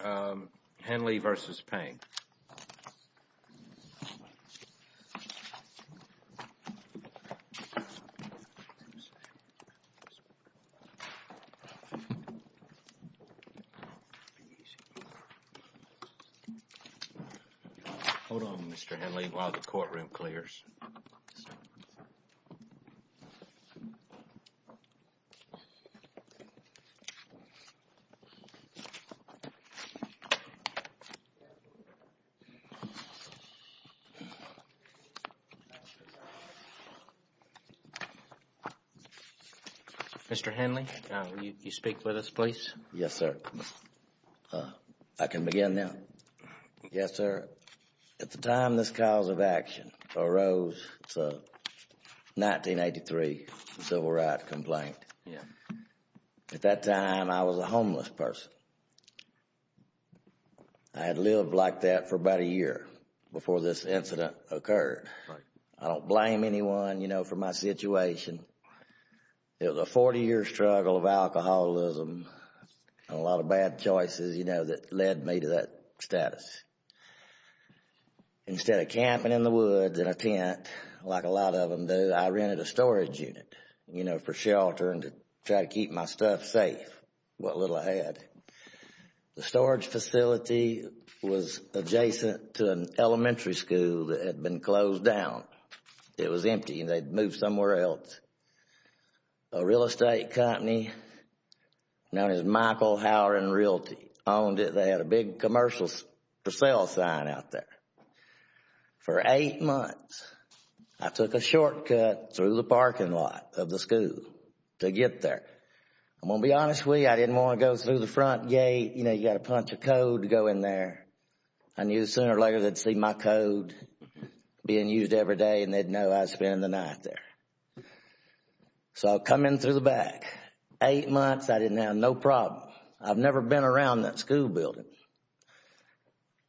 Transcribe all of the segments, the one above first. Hold on, Mr. Henley, while the courtroom clears. Mr. Henley, will you speak with us, please? Yes, sir. I can begin now? Yes, sir. At the time this cause of action arose, it's a 1983 civil rights complaint. Yeah. At that time, I was a homeless person. I had lived like that for about a year before this incident occurred. Right. I don't blame anyone, you know, for my situation. It was a 40-year struggle of alcoholism and a lot of bad choices, you know, that led me to that status. Instead of camping in the woods in a tent like a lot of them do, I rented a storage unit, you know, for shelter and to try to keep my stuff safe. What little I had. The storage facility was adjacent to an elementary school that had been closed down. It was empty and they'd moved somewhere else. A real estate company known as Michael Hower and Realty owned it. They had a big commercial for sale sign out there. For eight months, I took a shortcut through the parking lot of the school to get there. I'm going to be honest with you, I didn't want to go through the front gate. You know, you've got a bunch of code to go in there. I knew sooner or later they'd see my code being used every day and they'd know I'd spend the night there. So I come in through the back. Eight months, I didn't have no problem. I've never been around that school building.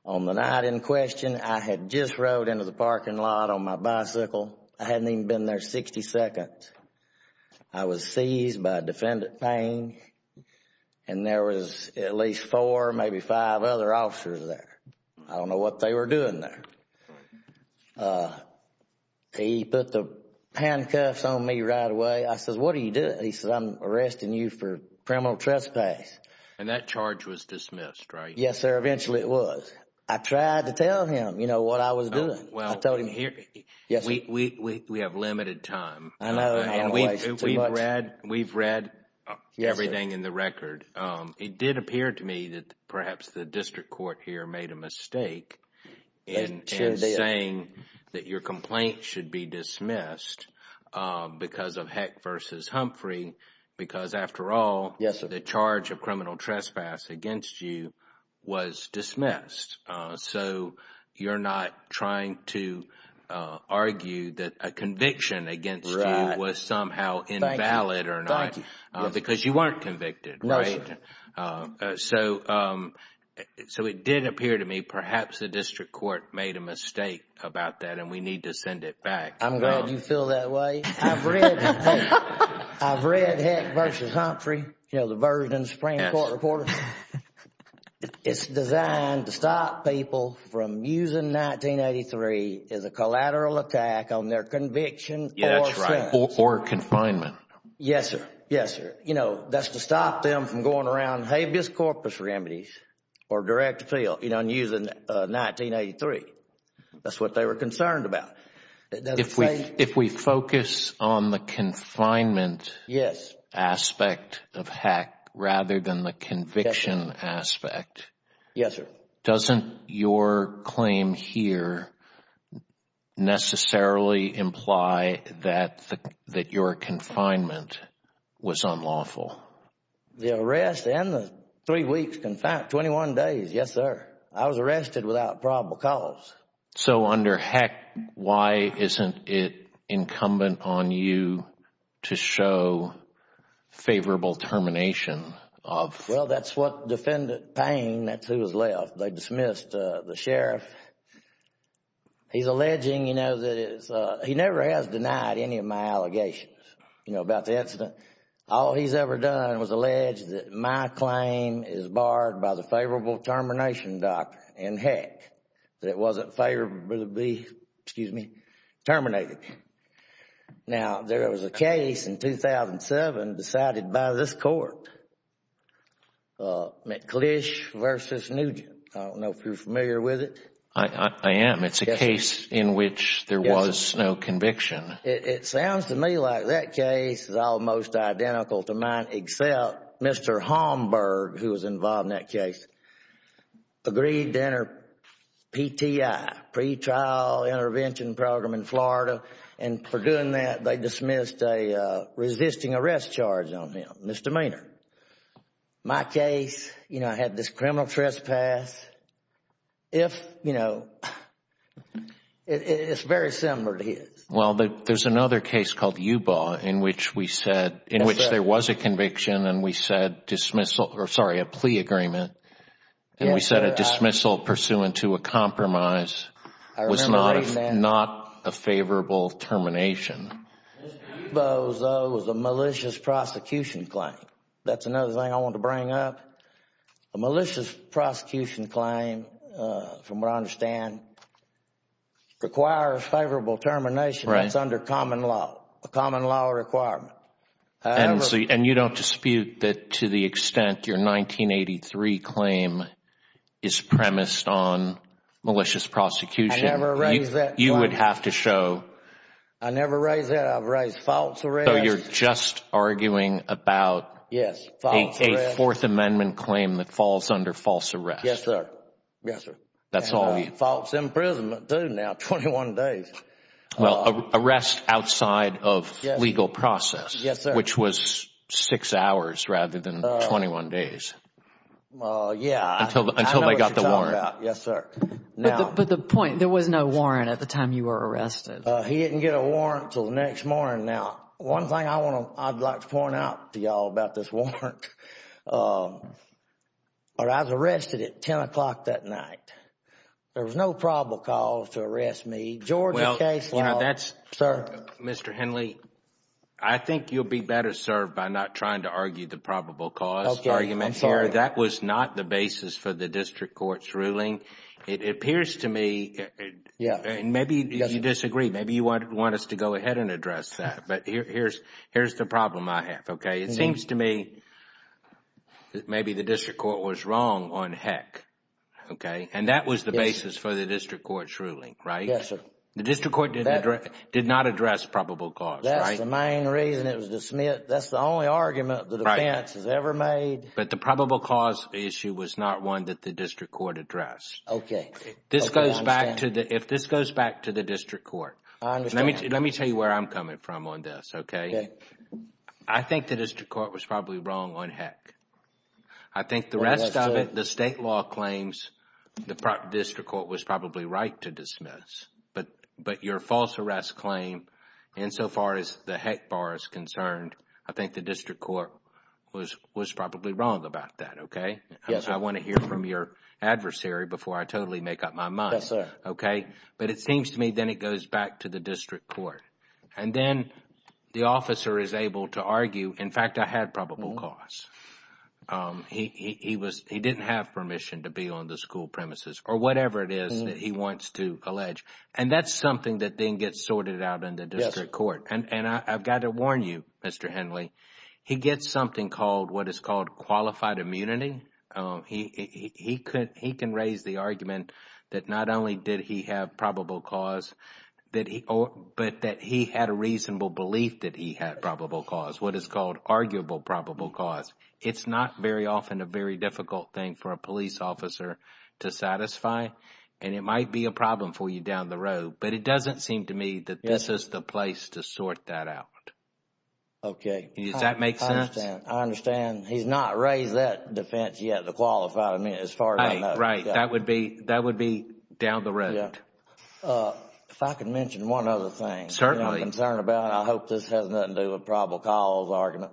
On the night in question, I had just rode into the parking lot on my bicycle. I hadn't even been there 60 seconds. I was seized by defendant Payne and there was at least four, maybe five other officers there. I don't know what they were doing there. He put the handcuffs on me right away. I said, what are you doing? He said, I'm arresting you for criminal trespass. And that charge was dismissed, right? Yes, sir, eventually it was. I tried to tell him, you know, what I was doing. We have limited time. We've read everything in the record. It did appear to me that perhaps the district court here made a mistake in saying that your complaint should be dismissed because of Heck versus Humphrey. Because after all, the charge of criminal trespass against you was dismissed. So you're not trying to argue that a conviction against you was somehow invalid or not. Thank you. Because you weren't convicted, right? No, sir. So it did appear to me perhaps the district court made a mistake about that and we need to send it back. I'm glad you feel that way. I've read Heck versus Humphrey, you know, the version in the Supreme Court reported. It's designed to stop people from using 1983 as a collateral attack on their conviction or sentence. Or confinement. Yes, sir. Yes, sir. You know, that's to stop them from going around habeas corpus remedies or direct appeal and using 1983. That's what they were concerned about. If we focus on the confinement aspect of Heck rather than the conviction aspect. Yes, sir. Doesn't your claim here necessarily imply that your confinement was unlawful? The arrest and the three weeks confinement, 21 days, yes, sir. I was arrested without probable cause. So under Heck, why isn't it incumbent on you to show favorable termination? Well, that's what defendant Payne, that's who was left, they dismissed the sheriff. He's alleging, you know, that he never has denied any of my allegations, you know, about the incident. All he's ever done was allege that my claim is barred by the favorable termination doctrine in Heck. That it wasn't favorably, excuse me, terminated. Now, there was a case in 2007 decided by this Court, McClish v. Nugent. I don't know if you're familiar with it. I am. It's a case in which there was no conviction. It sounds to me like that case is almost identical to mine, except Mr. Holmberg, who was involved in that case, agreed to enter PTI, pretrial intervention program in Florida. And for doing that, they dismissed a resisting arrest charge on him, misdemeanor. My case, you know, I had this criminal trespass. If, you know, it's very similar to his. Well, there's another case called Yubo in which we said, in which there was a conviction and we said dismissal, or sorry, a plea agreement, and we said a dismissal pursuant to a compromise was not a favorable termination. Yubo, though, was a malicious prosecution claim. That's another thing I want to bring up. A malicious prosecution claim, from what I understand, requires favorable termination. Right. That's under common law, a common law requirement. And you don't dispute that to the extent your 1983 claim is premised on malicious prosecution. I never raised that claim. You would have to show. I never raised that. I've raised false arrests. So you're just arguing about a Fourth Amendment claim that falls under false arrest. Yes, sir. Yes, sir. That's all you. False imprisonment, too, now, 21 days. Well, arrest outside of legal process. Yes, sir. Which was six hours rather than 21 days. Yeah. Until they got the warrant. I know what you're talking about. Yes, sir. But the point, there was no warrant at the time you were arrested. He didn't get a warrant until the next morning. Now, one thing I'd like to point out to you all about this warrant. I was arrested at 10 o'clock that night. There was no probable cause to arrest me. Well, that's, Mr. Henley, I think you'll be better served by not trying to argue the probable cause argument here. It appears to me, and maybe you disagree, maybe you want us to go ahead and address that. But here's the problem I have. It seems to me that maybe the district court was wrong on heck. And that was the basis for the district court's ruling, right? Yes, sir. The district court did not address probable cause, right? That's the main reason it was dismissed. That's the only argument the defense has ever made. But the probable cause issue was not one that the district court addressed. Okay. This goes back to the district court. I understand. Let me tell you where I'm coming from on this, okay? Okay. I think the district court was probably wrong on heck. I think the rest of it, the state law claims the district court was probably right to dismiss. But your false arrest claim, insofar as the heck bar is concerned, I think the district court was probably wrong about that, okay? Yes, sir. I want to hear from your adversary before I totally make up my mind. Yes, sir. Okay? But it seems to me then it goes back to the district court. And then the officer is able to argue, in fact, I had probable cause. He didn't have permission to be on the school premises or whatever it is that he wants to allege. And that's something that then gets sorted out in the district court. And I've got to warn you, Mr. Henley, he gets something called what is called qualified immunity. He can raise the argument that not only did he have probable cause, but that he had a reasonable belief that he had probable cause, what is called arguable probable cause. It's not very often a very difficult thing for a police officer to satisfy. And it might be a problem for you down the road. But it doesn't seem to me that this is the place to sort that out. Okay. Does that make sense? I understand. He's not raised that defense yet, the qualified immunity, as far as I know. Right. That would be down the road. If I could mention one other thing. Certainly. I'm concerned about it. I hope this has nothing to do with probable cause argument.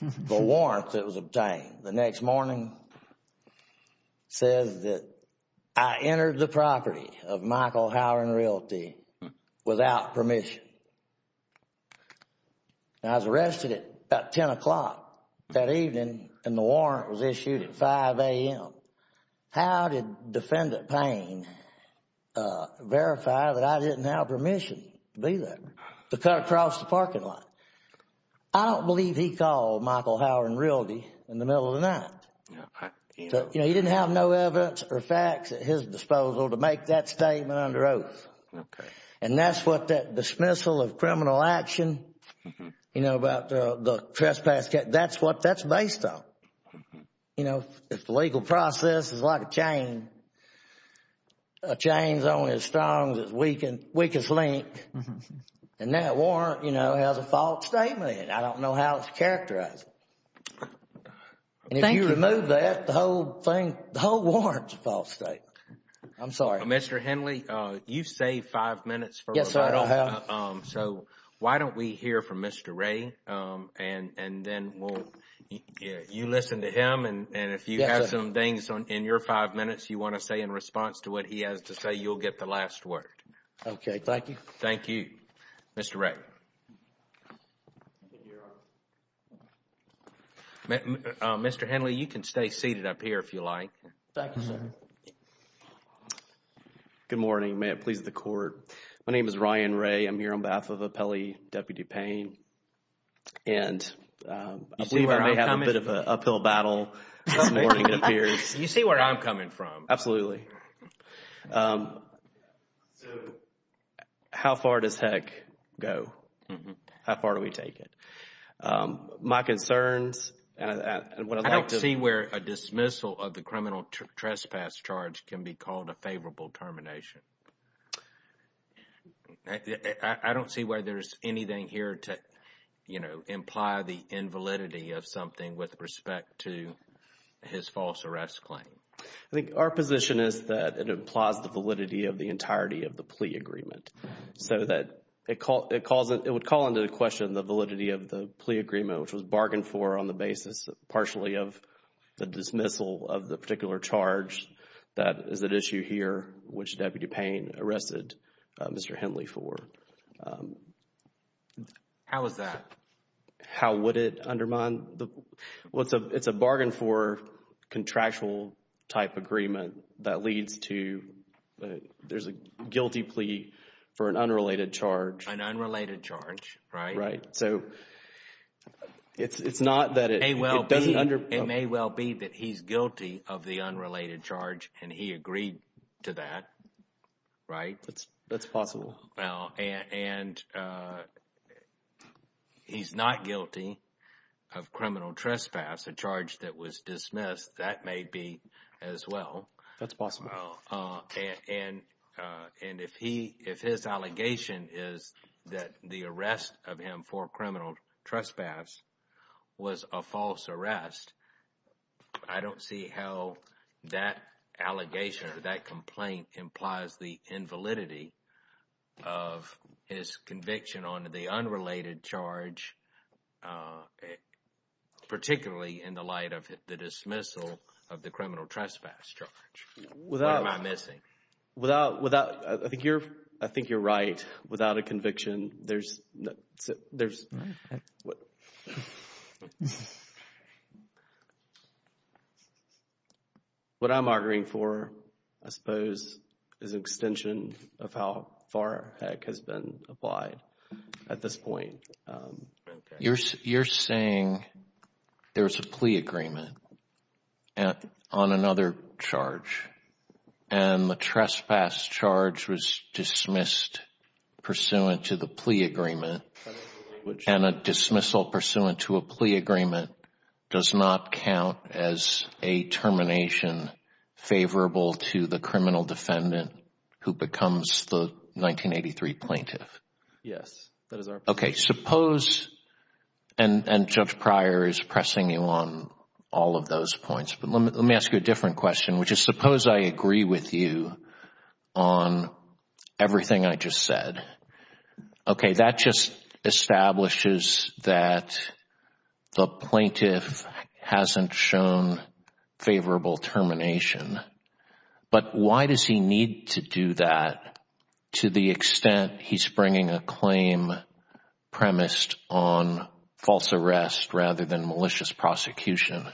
The warrant that was obtained the next morning says that I entered the property of Michael Howard and Realty without permission. I was arrested at about 10 o'clock that evening, and the warrant was issued at 5 a.m. How did Defendant Payne verify that I didn't have permission to be there, to cut across the parking lot? I don't believe he called Michael Howard and Realty in the middle of the night. You know, he didn't have no evidence or facts at his disposal to make that statement under oath. Okay. And that's what that dismissal of criminal action, you know, about the trespass case, that's what that's based on. You know, if the legal process is like a chain, a chain is only as strong as its weakest link, and that warrant, you know, has a false statement in it. I don't know how it's characterized. Thank you. And if you remove that, the whole thing, the whole warrant is a false statement. I'm sorry. Mr. Henley, you've saved five minutes. Yes, sir, I have. So why don't we hear from Mr. Ray, and then you listen to him, and if you have some things in your five minutes you want to say in response to what he has to say, you'll get the last word. Okay, thank you. Thank you. Mr. Ray. Mr. Henley, you can stay seated up here if you like. Thank you, sir. Good morning. May it please the Court. My name is Ryan Ray. I'm here on behalf of Appellee Deputy Payne, and I believe I may have a bit of an uphill battle this morning, it appears. You see where I'm coming from. Absolutely. So how far does heck go? How far do we take it? My concerns, and what I'd like to... I don't see where a dismissal of the criminal trespass charge can be called a favorable termination. I don't see why there's anything here to, you know, imply the invalidity of something with respect to his false arrest claim. I think our position is that it implies the validity of the entirety of the plea agreement, so that it would call into question the validity of the plea agreement, which was bargained for on the basis partially of the dismissal of the particular charge that is at issue here, which Deputy Payne arrested Mr. Henley for. How is that? How would it undermine the... Well, it's a bargain for contractual type agreement that leads to... There's a guilty plea for an unrelated charge. An unrelated charge, right? Right. So it's not that it doesn't... It may well be that he's guilty of the unrelated charge, and he agreed to that, right? That's possible. And he's not guilty of criminal trespass, a charge that was dismissed. That may be as well. That's possible. And if his allegation is that the arrest of him for criminal trespass was a false arrest, I don't see how that allegation or that complaint implies the invalidity of his conviction on the unrelated charge, particularly in the light of the dismissal of the criminal trespass charge. What am I missing? Without... I think you're right. Without a conviction, there's... What I'm arguing for, I suppose, is an extension of how FAR has been applied at this point. You're saying there's a plea agreement on another charge, and the trespass charge was dismissed pursuant to the plea agreement, and a dismissal pursuant to a plea agreement does not count as a termination favorable to the criminal defendant who becomes the 1983 plaintiff. Yes. Okay. Suppose... And Judge Pryor is pressing you on all of those points, but let me ask you a different question, which is suppose I agree with you on everything I just said. Okay, that just establishes that the plaintiff hasn't shown favorable termination. But why does he need to do that to the extent he's bringing a claim premised on false arrest rather than malicious prosecution?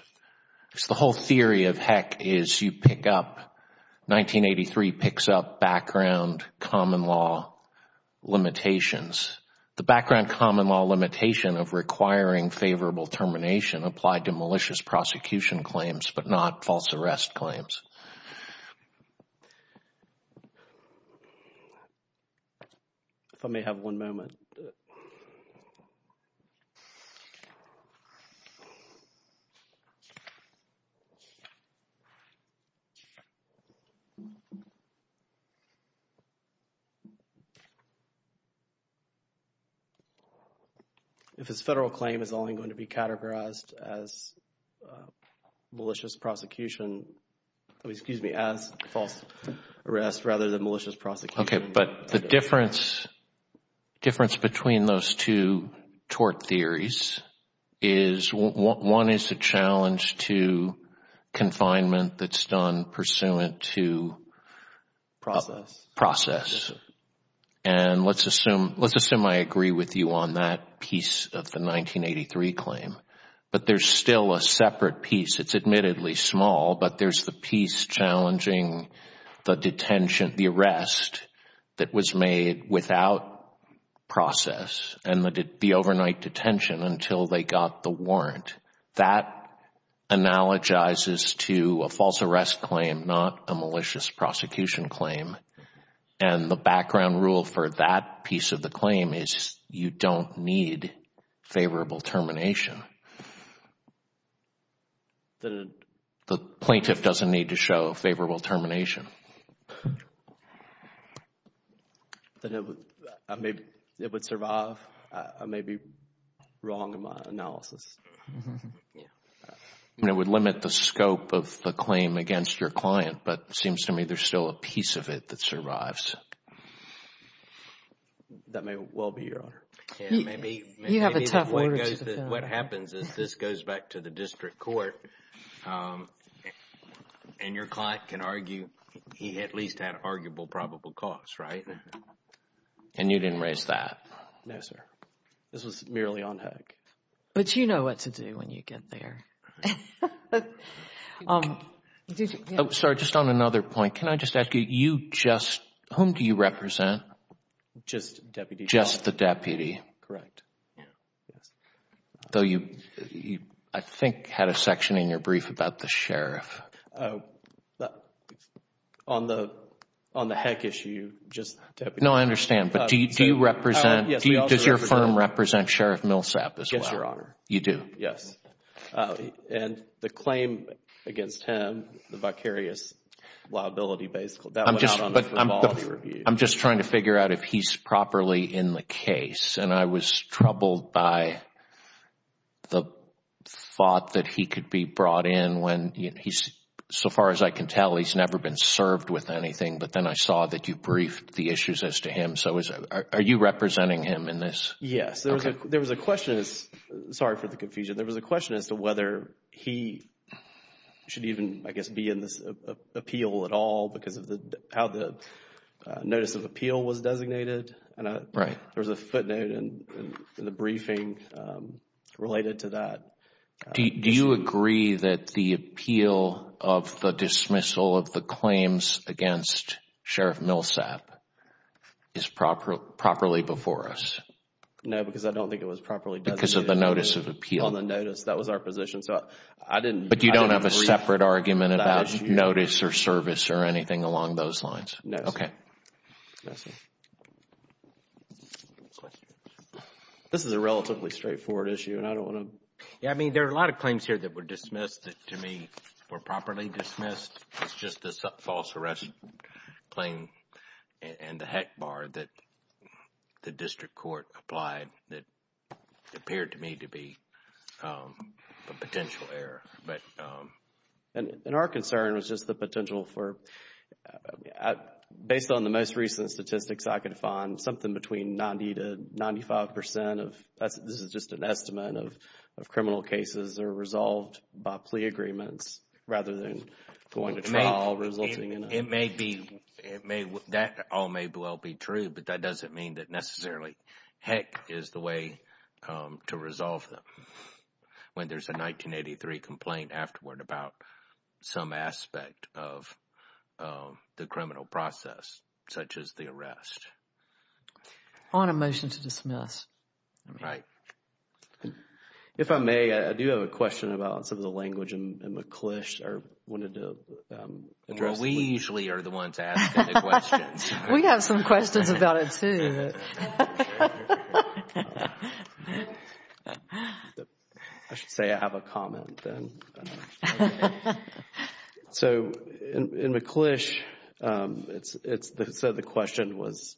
The whole theory of heck is you pick up... 1983 picks up background common law limitations. The background common law limitation of requiring favorable termination applied to malicious prosecution claims but not false arrest claims. If I may have one moment. Okay. If his federal claim is only going to be categorized as malicious prosecution, excuse me, as false arrest rather than malicious prosecution... Okay, but the difference between those two tort theories is one is a challenge to confinement that's done pursuant to... Process. Process. And let's assume I agree with you on that piece of the 1983 claim. But there's still a separate piece. It's admittedly small, but there's the piece challenging the detention, the arrest that was made without process and the overnight detention until they got the warrant. That analogizes to a false arrest claim, not a malicious prosecution claim. And the background rule for that piece of the claim is you don't need favorable termination. The plaintiff doesn't need to show favorable termination. It would survive a maybe wrong analysis. It would limit the scope of the claim against your client, but it seems to me there's still a piece of it that survives. That may well be, Your Honor. You have a tough order to defend. What happens is this goes back to the district court and your client can argue he at least had arguable probable cause, right? And you didn't raise that? No, sir. This was merely on hook. But you know what to do when you get there. Sorry, just on another point. Can I just ask you, you just, whom do you represent? Just deputy. Just the deputy. Correct. Though you, I think, had a section in your brief about the sheriff. On the heck issue, just the deputy. No, I understand. But do you represent, does your firm represent Sheriff Millsap as well? Yes, Your Honor. You do? Yes. And the claim against him, the vicarious liability basically, that went out on a formality review. I'm just trying to figure out if he's properly in the case. And I was troubled by the thought that he could be brought in when he's, so far as I can tell, he's never been served with anything. But then I saw that you briefed the issues as to him. So are you representing him in this? Yes. There was a question, sorry for the confusion, there was a question as to whether he should even, I guess, be in this appeal at all because of how the notice of appeal was designated. Right. There was a footnote in the briefing related to that. Do you agree that the appeal of the dismissal of the claims against Sheriff Millsap is properly before us? No, because I don't think it was properly designated. Because of the notice of appeal. On the notice, that was our position. But you don't have a separate argument about notice or service or anything along those lines? No, sir. Okay. Yes, sir. This is a relatively straightforward issue and I don't want to. Yeah, I mean, there are a lot of claims here that were dismissed that to me were properly dismissed. It's just the false arrest claim and the heck bar that the district court applied that appeared to me to be a potential error. And our concern was just the potential for, based on the most recent statistics I could find, something between 90 to 95 percent of, this is just an estimate of criminal cases that are resolved by plea agreements rather than going to trial resulting in. It may be, that all may well be true, but that doesn't mean that necessarily heck is the way to resolve them. When there's a 1983 complaint afterward about some aspect of the criminal process, such as the arrest. On a motion to dismiss. Right. If I may, I do have a question about some of the language that McClish wanted to address. Well, we usually are the ones asking the questions. We have some questions about it too. I should say I have a comment then. So in McClish, it said the question was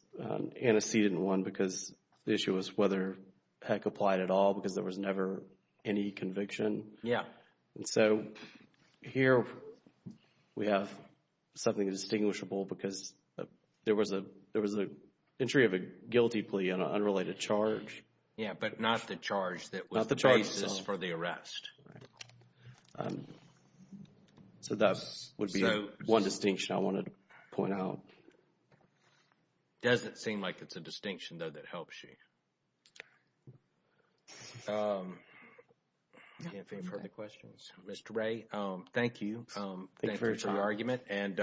antecedent one because the issue was whether heck applied at all because there was never any conviction. Yeah. And so here we have something distinguishable because there was an entry of a guilty plea on an unrelated charge. Yeah, but not the charge that was the basis for the arrest. So that would be one distinction I wanted to point out. Doesn't seem like it's a distinction, though, that helps you. Mr. Ray, thank you. Thank you for your time. And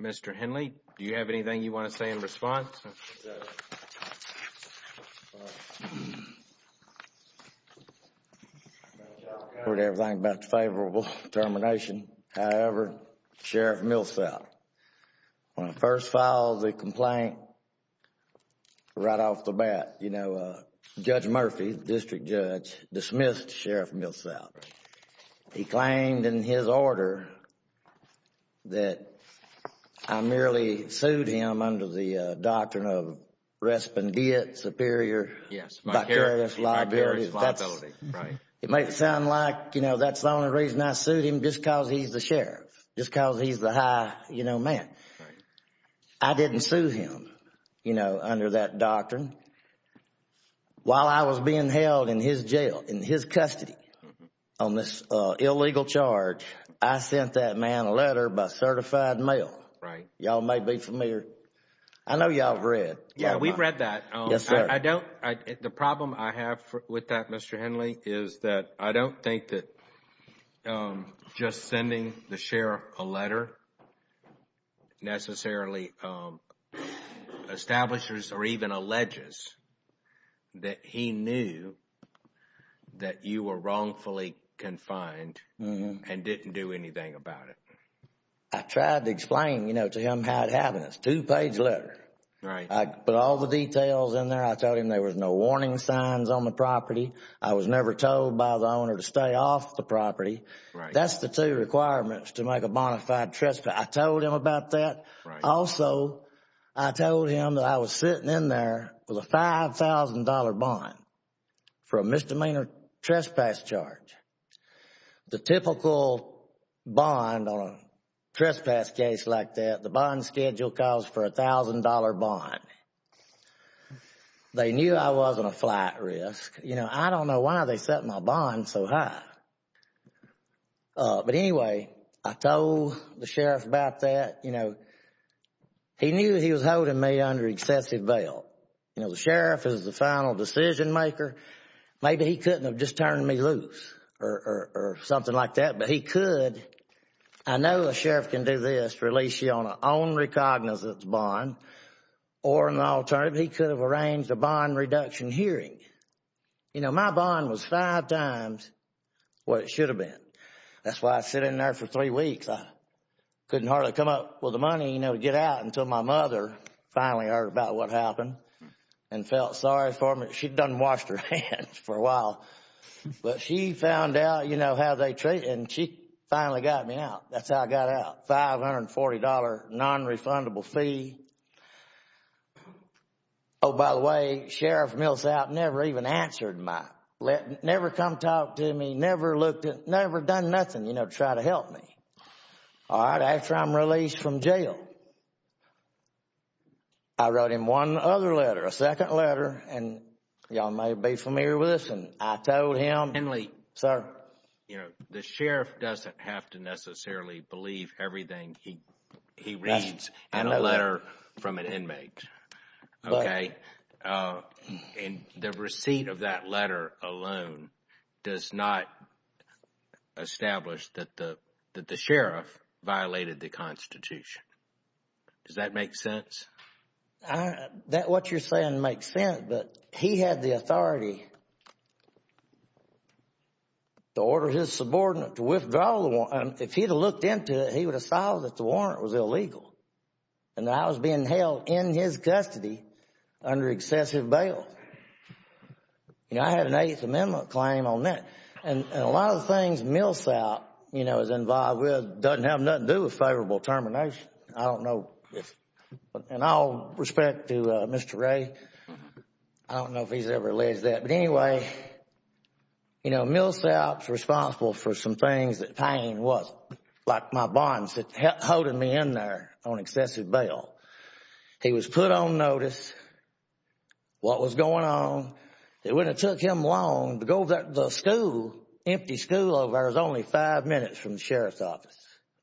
Mr. Henley, do you have anything you want to say in response? I've heard everything about the favorable termination. However, Sheriff Millsap, when I first filed the complaint right off the bat, you know, Judge Murphy, District Judge, dismissed Sheriff Millsap. He claimed in his order that I merely sued him under the doctrine of respondeat superior. Yes. Liability. It might sound like, you know, that's the only reason I sued him just because he's the sheriff, just because he's the high, you know, man. I didn't sue him, you know, under that doctrine. While I was being held in his jail, in his custody on this illegal charge, I sent that man a letter by certified mail. Right. Y'all may be familiar. I know y'all have read. Yeah, we've read that. Yes, sir. The problem I have with that, Mr. Henley, is that I don't think that just sending the sheriff a letter necessarily establishes or even alleges that he knew that you were wrongfully confined and didn't do anything about it. I tried to explain, you know, to him how it happened. It's a two-page letter. I put all the details in there. I told him there was no warning signs on the property. I was never told by the owner to stay off the property. That's the two requirements to make a bona fide trespass. I told him about that. Right. Also, I told him that I was sitting in there with a $5,000 bond for a misdemeanor trespass charge. The typical bond on a trespass case like that, the bond schedule calls for a $1,000 bond. They knew I wasn't a flat risk. You know, I don't know why they set my bond so high. But anyway, I told the sheriff about that. You know, he knew he was holding me under excessive bail. You know, the sheriff is the final decision maker. Maybe he couldn't have just turned me loose or something like that, but he could. I know a sheriff can do this, release you on an only cognizance bond or an alternative. He could have arranged a bond reduction hearing. You know, my bond was five times what it should have been. That's why I was sitting in there for three weeks. I couldn't hardly come up with the money, you know, to get out until my mother finally heard about what happened and felt sorry for me. She done washed her hands for a while. But she found out, you know, how they treated me, and she finally got me out. That's how I got out, $540 nonrefundable fee. Oh, by the way, sheriff Millsout never even answered my, never come talk to me, never looked at, never done nothing, you know, to try to help me. All right, after I'm released from jail, I wrote him one other letter, a second letter, and you all may be familiar with this, and I told him. Henley. Sir. You know, the sheriff doesn't have to necessarily believe everything he reads. And a letter from an inmate. Okay. And the receipt of that letter alone does not establish that the sheriff violated the Constitution. Does that make sense? That what you're saying makes sense, but he had the authority to order his subordinate to withdraw the warrant. If he had looked into it, he would have found that the warrant was illegal and that I was being held in his custody under excessive bail. You know, I had an Eighth Amendment claim on that. And a lot of the things Millsout, you know, is involved with doesn't have nothing to do with favorable termination. I don't know if, in all respect to Mr. Ray, I don't know if he's ever alleged that. But anyway, you know, Millsout's responsible for some things that Payne wasn't, like my bonds that held me in there on excessive bail. He was put on notice. What was going on. It wouldn't have took him long to go to the school, empty school over there. It was only five minutes from the sheriff's office.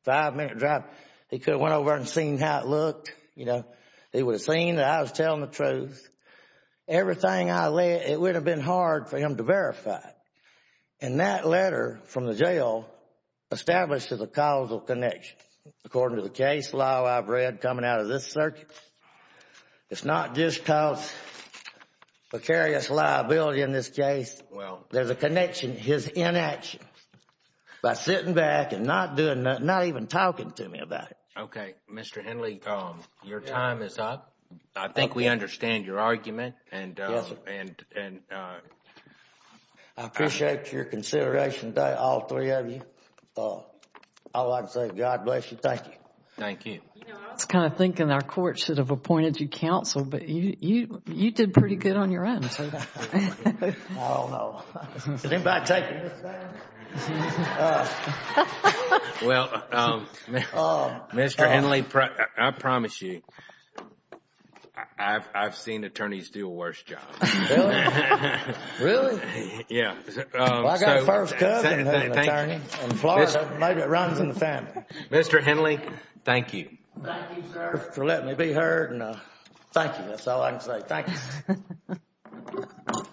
Five-minute drive. He could have went over there and seen how it looked. You know, he would have seen that I was telling the truth. Everything I led, it would have been hard for him to verify. And that letter from the jail establishes a causal connection. According to the case law I've read coming out of this circuit, it's not just because precarious liability in this case. There's a connection. His inaction by sitting back and not even talking to me about it. Okay. Mr. Henley, your time is up. I think we understand your argument. Yes, sir. I appreciate your consideration today, all three of you. All I can say is God bless you. Thank you. Thank you. You know, I was kind of thinking our court should have appointed you counsel, but you did pretty good on your end. I don't know. Did anybody take him this time? Well, Mr. Henley, I promise you, I've seen attorneys do a worse job. Really? Yeah. Well, I got a first cousin who's an attorney in Florida. Maybe it runs in the family. Mr. Henley, thank you. Thank you, sir, for letting me be heard. Thank you. That's all I can say. Thank you.